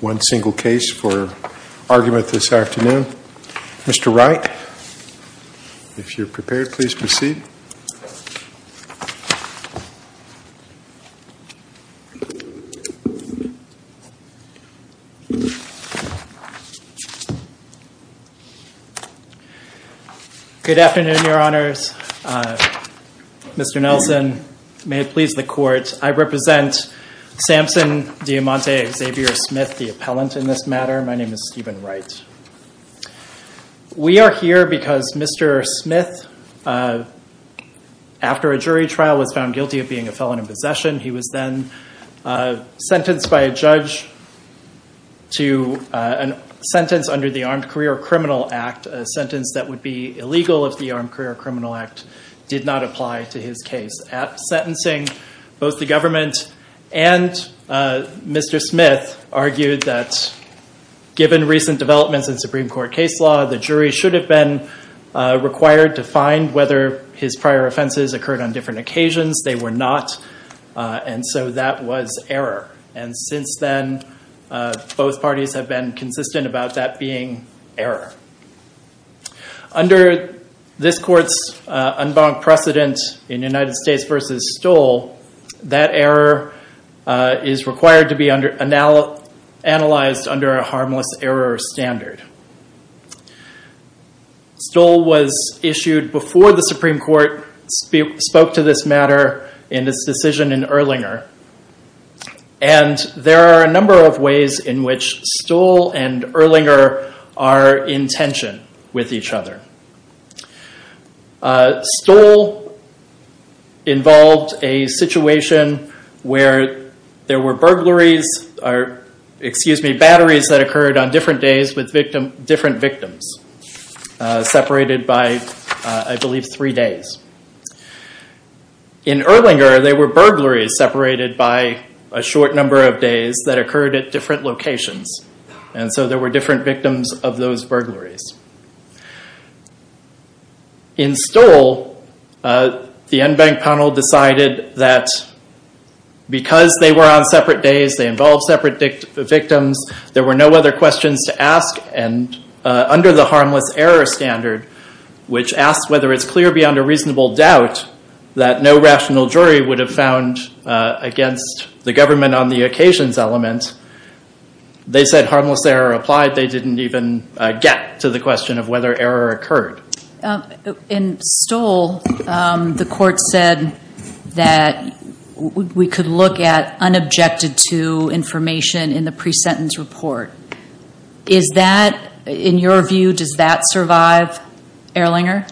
One single case for argument this afternoon. Mr. Wright, if you're prepared, please proceed. Good afternoon, your honors. Mr. Nelson, may it please the court, I represent Samson Diamante Xavior-Smith, the appellant in this matter. My name is Stephen Wright. We are here because Mr. Smith, after a jury trial, was found guilty of being a felon in possession. He was then sentenced by a judge to a sentence under the Armed Career Criminal Act, a sentence that would be illegal if the Armed Career Criminal Act did not apply to his case. Both the government and Mr. Smith argued that given recent developments in Supreme Court case law, the jury should have been required to find whether his prior offenses occurred on different occasions. They were not, and so that was error. And since then, both parties have been consistent about that being error. Under this court's unbunked precedent in United States v. Stohl, that error is required to be analyzed under a harmless error standard. Stohl was issued before the Supreme Court spoke to this matter in its decision in Erlinger, and there are a number of ways in which Stohl and Erlinger are in tension with each other. Stohl involved a situation where there were batteries that occurred on different days with different victims, separated by, I believe, three days. In Erlinger, there were burglaries separated by a short number of days that occurred at different locations, and so there were different victims of those burglaries. In Stohl, the unbanked panel decided that because they were on separate days, they involved separate victims, there were no other questions to ask, and under the harmless error standard, which asks whether it's clear beyond a reasonable doubt that no rational jury would have found against the government on the occasions element, they said harmless error applied. They didn't even get to the question of whether error occurred. In Stohl, the court said that we could look at unobjected to information in the pre-sentence report. Is that, in your view, does that survive Erlinger?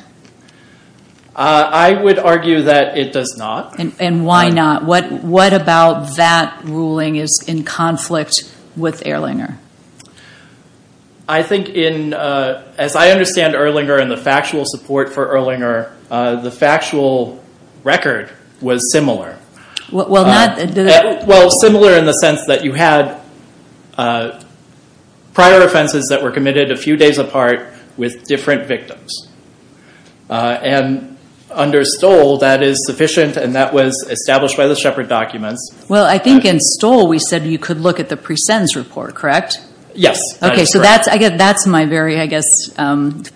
I would argue that it does not. And why not? What about that ruling is in conflict with Erlinger? I think, as I understand Erlinger and the factual support for Erlinger, the factual record was similar. Well, not... Well, I think in Stohl we said you could look at the pre-sentence report, correct? Yes. Okay, so that's my very, I guess,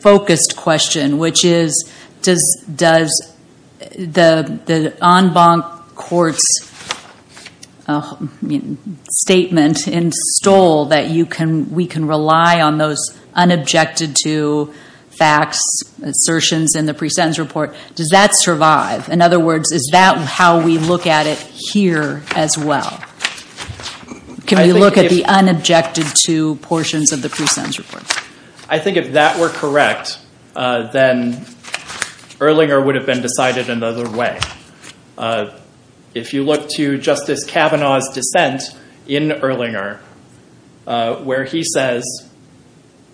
focused question, which is does the unbanked court's statement in Stohl that we can rely on those unobjected to facts, assertions in the pre-sentence report, does that survive? In other words, is that how we look at it here as well? Can we look at the unobjected to portions of the pre-sentence report? I think if that were correct, then Erlinger would have been decided another way. If you look to Justice Kavanaugh's dissent in Erlinger, where he says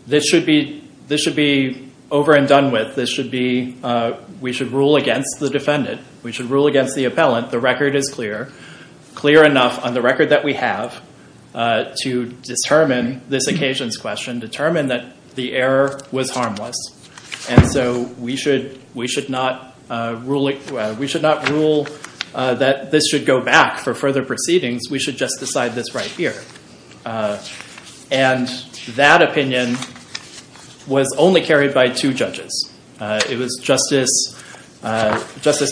this should be over and done with, this should be, we should rule against the defendant, we should rule against the appellant, the record is clear. Clear enough on the record that we have to determine this occasion's question, determine that the error was harmless, and so we should not rule that this should go back for further proceedings, we should just decide this right here. And that opinion was only carried by two judges. It was Justice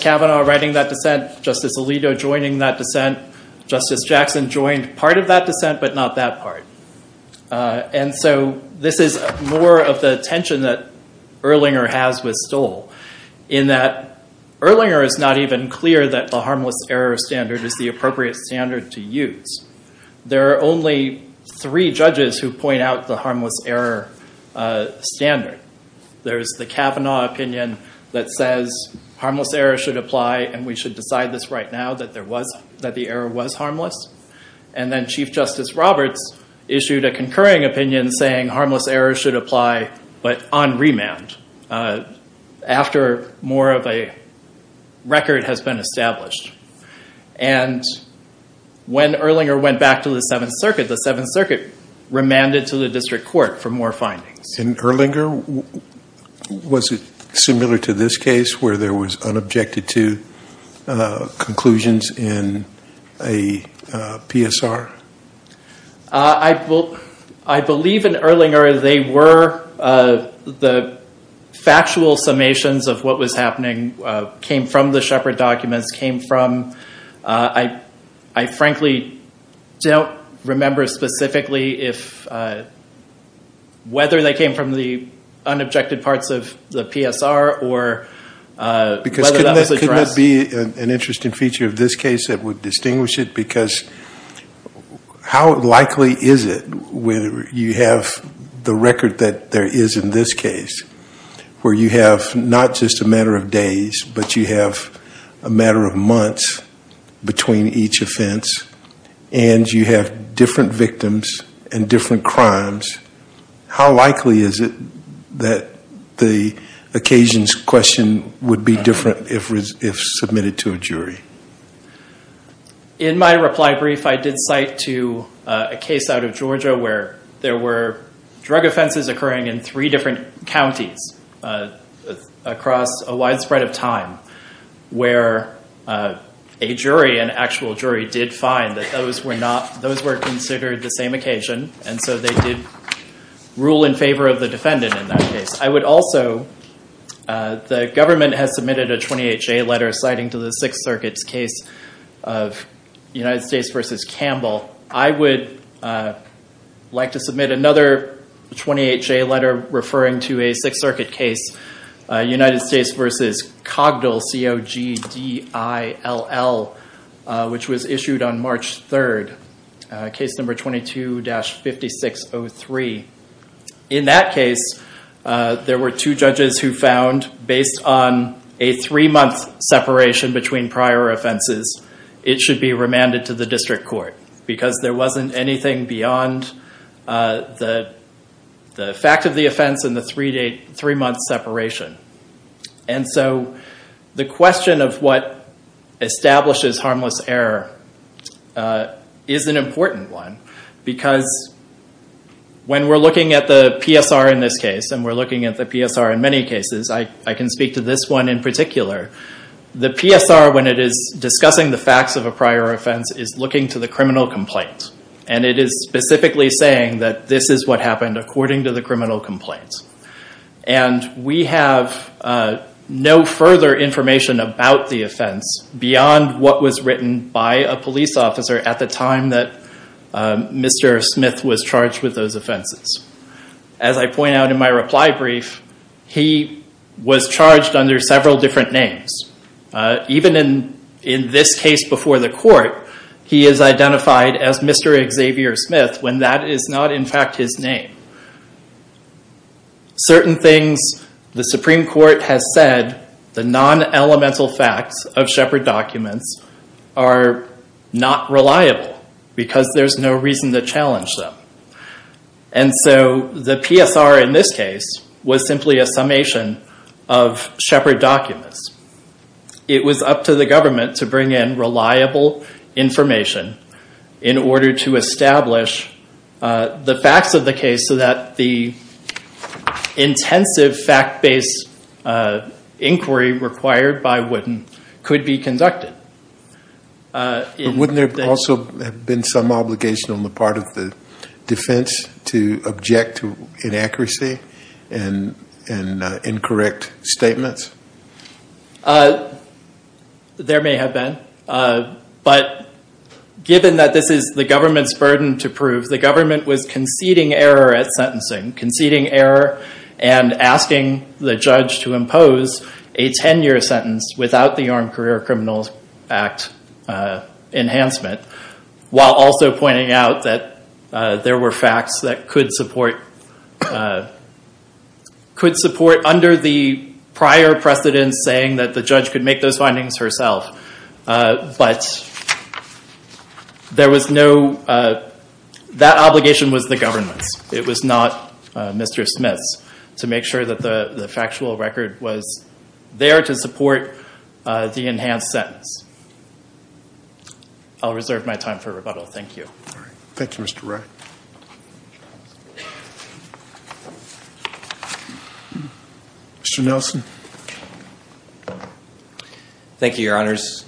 Kavanaugh writing that dissent, Justice Alito joining that dissent, Justice Jackson joined part of that dissent, but not that part. And so this is more of the tension that Erlinger has with Stohl, in that Erlinger is not even clear that the harmless error standard is the appropriate standard to use. There are only three judges who point out the harmless error standard. There's the Kavanaugh opinion that says harmless error should apply and we should decide this right now that the error was harmless. And then Chief Justice Roberts issued a concurring opinion saying harmless error should apply, but on remand, after more of a record has been established. And when Erlinger went back to the Seventh Circuit, the Seventh Circuit remanded to the district court for more findings. In Erlinger, was it similar to this case where there was unobjected to conclusions in a PSR? I believe in Erlinger they were the factual summations of what was happening, came from the Shepard documents, came from, I frankly don't remember specifically whether they came from the unobjected parts of the PSR or whether that was addressed. Could that be an interesting feature of this case that would distinguish it? Because how likely is it, when you have the record that there is in this case, where you have not just a matter of days, but you have a matter of months between each offense, and you have different victims and different crimes, how likely is it that the occasions question would be different if submitted to a jury? In my reply brief, I did cite to a case out of Georgia where there were drug offenses occurring in three different counties across a widespread of time, where a jury, an actual jury, did find that those were considered the same occasion, and so they did rule in favor of the defendant in that case. I would also, the government has submitted a 28-J letter citing to the Sixth Circuit's case of United States v. Campbell. I would like to submit another 28-J letter referring to a Sixth Circuit case, United States v. Cogdill, C-O-G-D-I-L-L, which was issued on March 3rd, case number 22-5603. In that case, there were two judges who found, based on a three-month separation between prior offenses, it should be remanded to the district court, because there wasn't anything beyond the fact of the offense and the three-month separation. The question of what establishes harmless error is an important one, because when we're looking at the PSR in this case, and we're looking at the PSR in many cases, I can speak to this one in particular. The PSR, when it is discussing the facts of a prior offense, is looking to the criminal complaint, and it is specifically saying that this is what happened according to the criminal complaint. We have no further information about the offense beyond what was written by a police officer at the time that Mr. Smith was charged with those offenses. As I point out in my reply brief, he was charged under several different names. Even in this case before the court, he is identified as Mr. Xavier Smith when that is not, in fact, his name. Certain things the Supreme Court has said, the non-elemental facts of Shepard documents, are not reliable, because there's no reason to challenge them. The PSR in this case was simply a summation of Shepard documents. It was up to the government to bring in reliable information in order to establish the facts of the case so that the intensive fact-based inquiry required by Wooden could be conducted. Wouldn't there also have been some obligation on the part of the defense to object to inaccuracy and incorrect statements? There may have been, but given that this is the government's burden to prove, the government was conceding error at sentencing. Conceding error and asking the judge to impose a 10-year sentence without the Armed Career Criminals Act enhancement, while also pointing out that there were facts that could support under the prior precedents saying that the judge could make those findings herself. But that obligation was the government's. It was not Mr. Smith's. To make sure that the factual record was there to support the enhanced sentence. I'll reserve my time for rebuttal. Thank you. Thank you, Mr. Wright. Mr. Nelson. Thank you, your honors,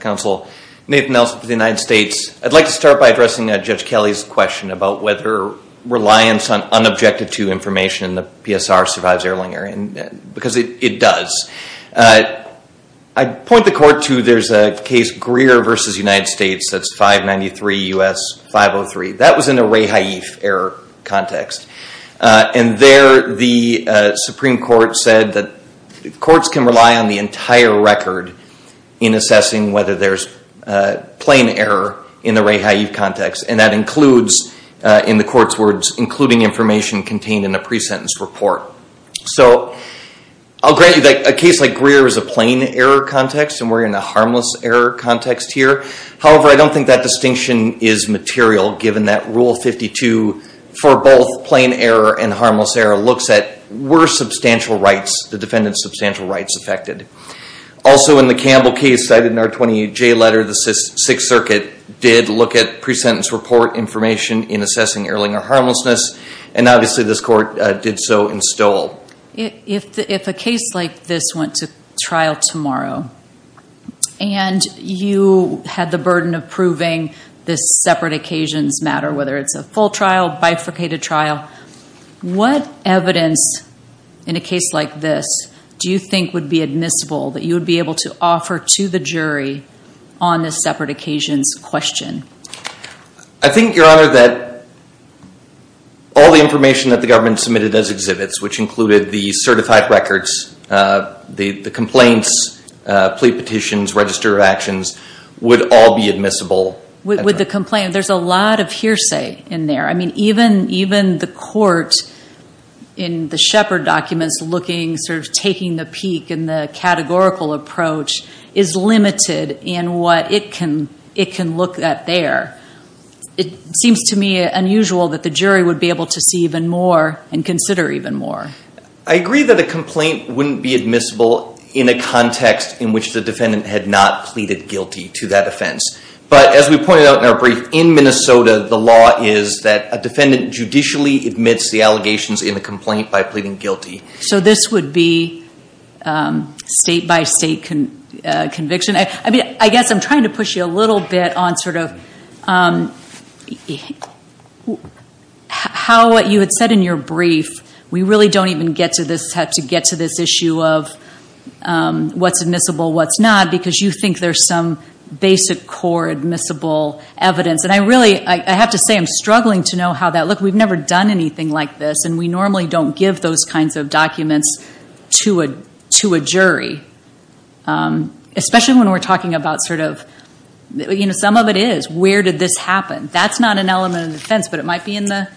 counsel. Nathan Nelson for the United States. I'd like to start by addressing Judge Kelly's question about whether reliance on unobjected to information in the PSR survives Erlinger. Because it does. I'd point the court to there's a case Greer v. United States that's 593 U.S. 503. That was in a rehaif error context. And there the Supreme Court said that courts can rely on the entire record in assessing whether there's plain error in the rehaif context. And that includes, in the court's words, including information contained in a pre-sentence report. So I'll grant you that a case like Greer is a plain error context and we're in a harmless error context here. However, I don't think that distinction is material given that Rule 52 for both plain error and harmless error looks at were the defendant's substantial rights affected. Also in the Campbell case cited in our 28J letter, the Sixth Circuit did look at pre-sentence report information in assessing Erlinger harmlessness. And obviously this court did so in Stowell. If a case like this went to trial tomorrow and you had the burden of proving this separate occasions matter, whether it's a full trial, bifurcated trial, what evidence in a case like this do you think would be admissible that you would be able to offer to the jury on this separate occasions question? I think, Your Honor, that all the information that the government submitted as exhibits, which included the certified records, the complaints, plea petitions, register of actions, would all be admissible. With the complaint, there's a lot of hearsay in there. I mean, even the court in the Shepard documents looking, sort of taking the peak in the categorical approach, is limited in what it can look at there. It seems to me unusual that the jury would be able to see even more and consider even more. I agree that a complaint wouldn't be admissible in a context in which the defendant had not pleaded guilty to that offense. But, as we pointed out in our brief, in Minnesota, the law is that a defendant judicially admits the allegations in the complaint by pleading guilty. So this would be state-by-state conviction? I mean, I guess I'm trying to push you a little bit on sort of how you had said in your brief, we really don't even get to this issue of what's admissible, what's not, because you think there's some basic core admissible evidence. And I really, I have to say, I'm struggling to know how that, look, we've never done anything like this, and we normally don't give those kinds of documents to a jury. Especially when we're talking about sort of, you know, some of it is, where did this happen? That's not an element of defense, but it might be in the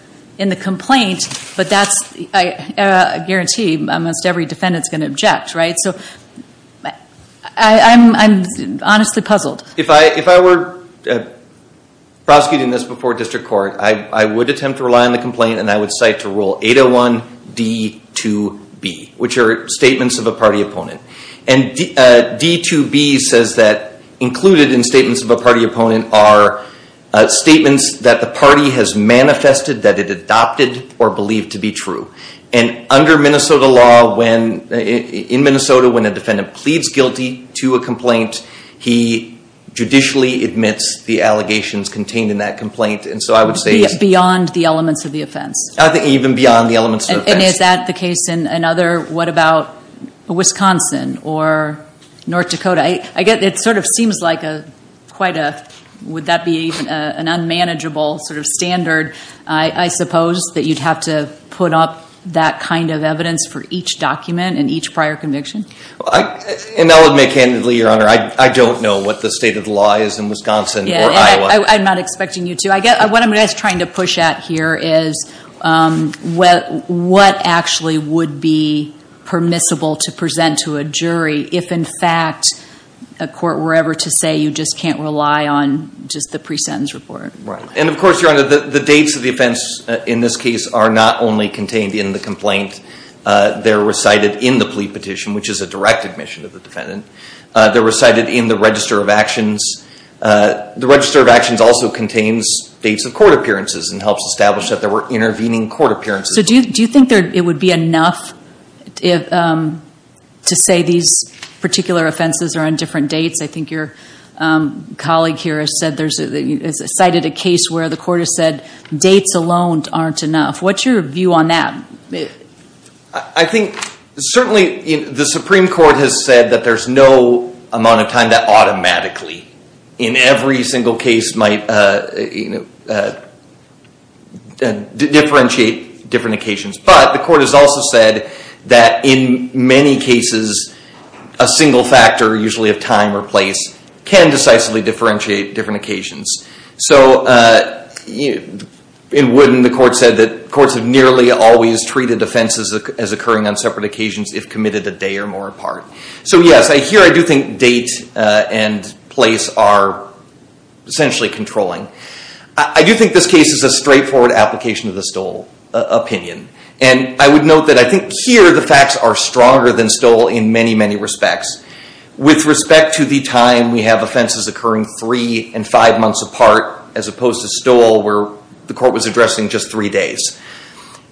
complaint. But that's, I guarantee, almost every defendant's going to object, right? So, I'm honestly puzzled. If I were prosecuting this before district court, I would attempt to rely on the complaint, and I would cite to Rule 801D2B, which are statements of a party opponent. And D2B says that included in statements of a party opponent are statements that the party has manifested that it adopted or believed to be true. And under Minnesota law, when, in Minnesota, when a defendant pleads guilty to a complaint, he judicially admits the allegations contained in that complaint. And so I would say... Beyond the elements of the offense. I think even beyond the elements of the offense. And is that the case in another, what about Wisconsin or North Dakota? I get, it sort of seems like a, quite a, would that be an unmanageable sort of standard, I suppose, that you'd have to put up that kind of evidence for each document and each prior conviction? And I would make candidly, Your Honor, I don't know what the state of the law is in Wisconsin or Iowa. I'm not expecting you to. What I'm just trying to push at here is what actually would be permissible to present to a jury if, in fact, a court were ever to say you just can't rely on just the pre-sentence report. And of course, Your Honor, the dates of the offense in this case are not only contained in the complaint. They're recited in the plea petition, which is a direct admission of the defendant. They're recited in the Register of Actions. The Register of Actions also contains dates of court appearances and helps establish that there were intervening court appearances. So do you think it would be enough to say these particular offenses are on different dates? I think your colleague here has cited a case where the court has said dates alone aren't enough. What's your view on that? I think certainly the Supreme Court has said that there's no amount of time that automatically, in every single case, might differentiate different occasions. But the court has also said that in many cases, a single factor, usually of time or place, can decisively differentiate different occasions. So in Wooden, the court said that courts have nearly always treated offenses as occurring on separate occasions if committed a day or more apart. So yes, here I do think date and place are essentially controlling. I do think this case is a straightforward application of the Stoll opinion. And I would note that I think here the facts are stronger than Stoll in many, many respects. With respect to the time, we have offenses occurring three and five months apart, as opposed to Stoll where the court was addressing just three days.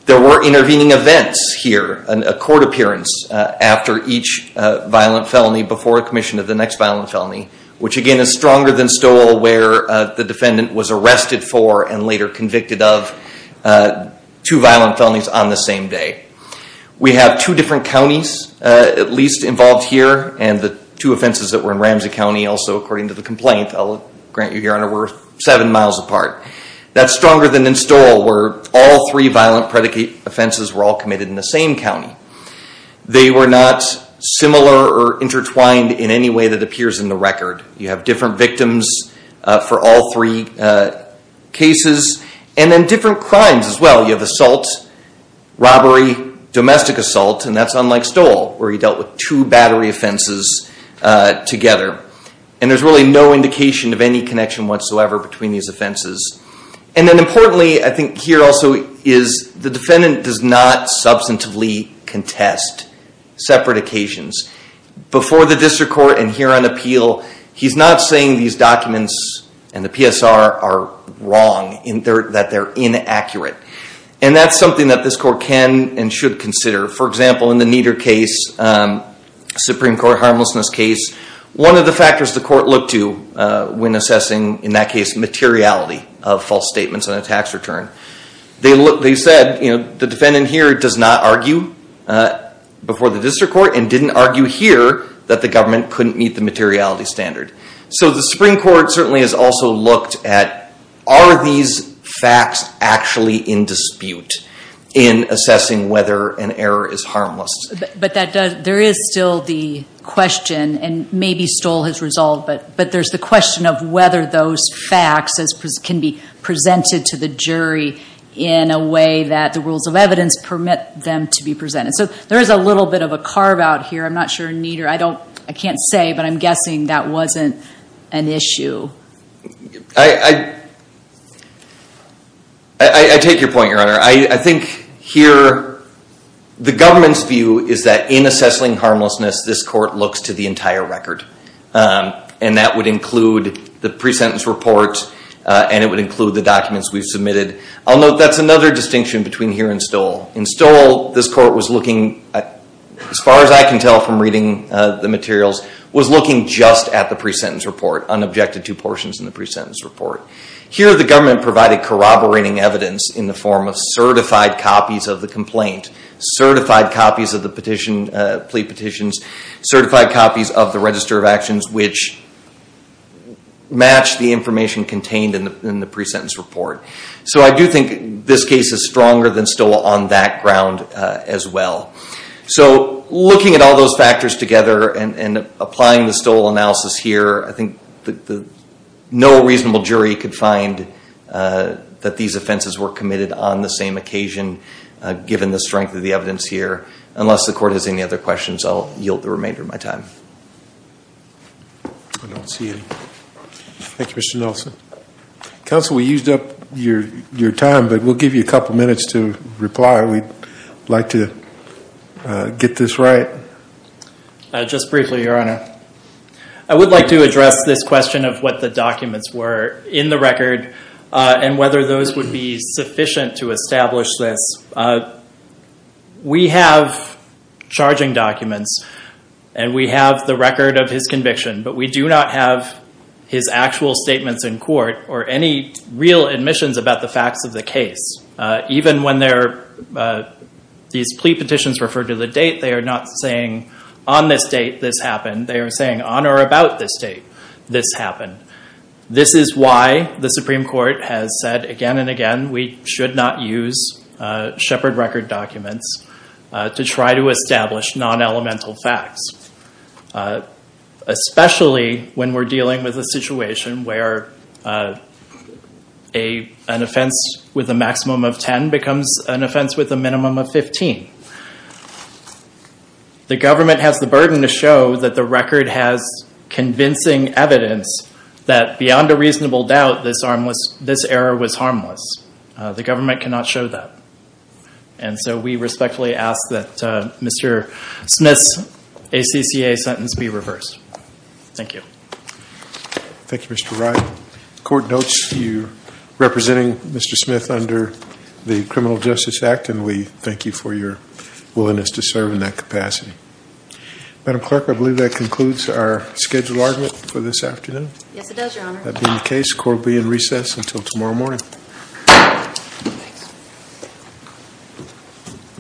There were intervening events here, a court appearance after each violent felony before a commission of the next violent felony, which again is stronger than Stoll where the defendant was arrested for and later convicted of two violent felonies on the same day. We have two different counties at least involved here, and the two offenses that were in Ramsey County, also according to the complaint, I'll grant you, Your Honor, were seven miles apart. That's stronger than in Stoll where all three violent predicate offenses were all committed in the same county. They were not similar or intertwined in any way that appears in the record. You have different victims for all three cases, and then different crimes as well. You have assault, robbery, domestic assault, and that's unlike Stoll where he dealt with two battery offenses together. And there's really no indication of any connection whatsoever between these offenses. And then importantly, I think here also is the defendant does not substantively contest separate occasions. Before the district court and here on appeal, he's not saying these documents and the PSR are wrong, that they're inaccurate. And that's something that this court can and should consider. For example, in the Nieder case, Supreme Court harmlessness case, one of the factors the court looked to when assessing, in that case, materiality of false statements on a tax return, they said the defendant here does not argue before the district court and didn't argue here that the government couldn't meet the materiality standard. So the Supreme Court certainly has also looked at, are these facts actually in dispute in assessing whether an error is harmless? But there is still the question, and maybe Stoll has resolved, but there's the question of whether those facts can be presented to the jury in a way that the rules of evidence permit them to be presented. So there is a little bit of a carve out here. I'm not sure Nieder, I can't say, but I'm guessing that wasn't an issue. I take your point, your honor. I think here, the government's view is that in assessing harmlessness, this court looks to the entire record. And that would include the pre-sentence report, and it would include the documents we've submitted. I'll note that's another distinction between here and Stoll. In Stoll, this court was looking, as far as I can tell from reading the materials, was looking just at the pre-sentence report, unobjected to portions in the pre-sentence report. Here, the government provided corroborating evidence in the form of certified copies of the complaint, certified copies of the plea petitions, certified copies of the register of actions which match the information contained in the pre-sentence report. So I do think this case is stronger than Stoll on that ground as well. So looking at all those factors together and applying the Stoll analysis here, I think no reasonable jury could find that these offenses were committed on the same occasion, given the strength of the evidence here. Unless the court has any other questions, I'll yield the remainder of my time. I don't see any. Thank you, Mr. Nelson. Counsel, we used up your time, but we'll give you a couple minutes to reply. We'd like to get this right. Just briefly, Your Honor. I would like to address this question of what the documents were in the record, and whether those would be sufficient to establish this. We have charging documents and we have the record of his conviction, but we do not have his actual statements in court or any real admissions about the facts of the case. Even when these plea petitions refer to the date, they are not saying on this date this happened. They are saying on or about this date this happened. This is why the Supreme Court has said again and again we should not use Shepard Record documents to try to establish non-elemental facts. Especially when we're dealing with a situation where an offense with a maximum of 10 becomes an offense with a minimum of 15. The government has the burden to show that the record has convincing evidence that beyond a reasonable doubt, this error was harmless. The government cannot show that. We respectfully ask that Mr. Smith's ACCA sentence be reversed. Thank you. Thank you, Mr. Wright. The court notes you representing Mr. Smith under the Criminal Justice Act, and we thank you for your willingness to serve in that capacity. Madam Clerk, I believe that concludes our scheduled argument for this afternoon. Yes, it does, Your Honor. That being the case, the court will be in recess until tomorrow morning. Thank you.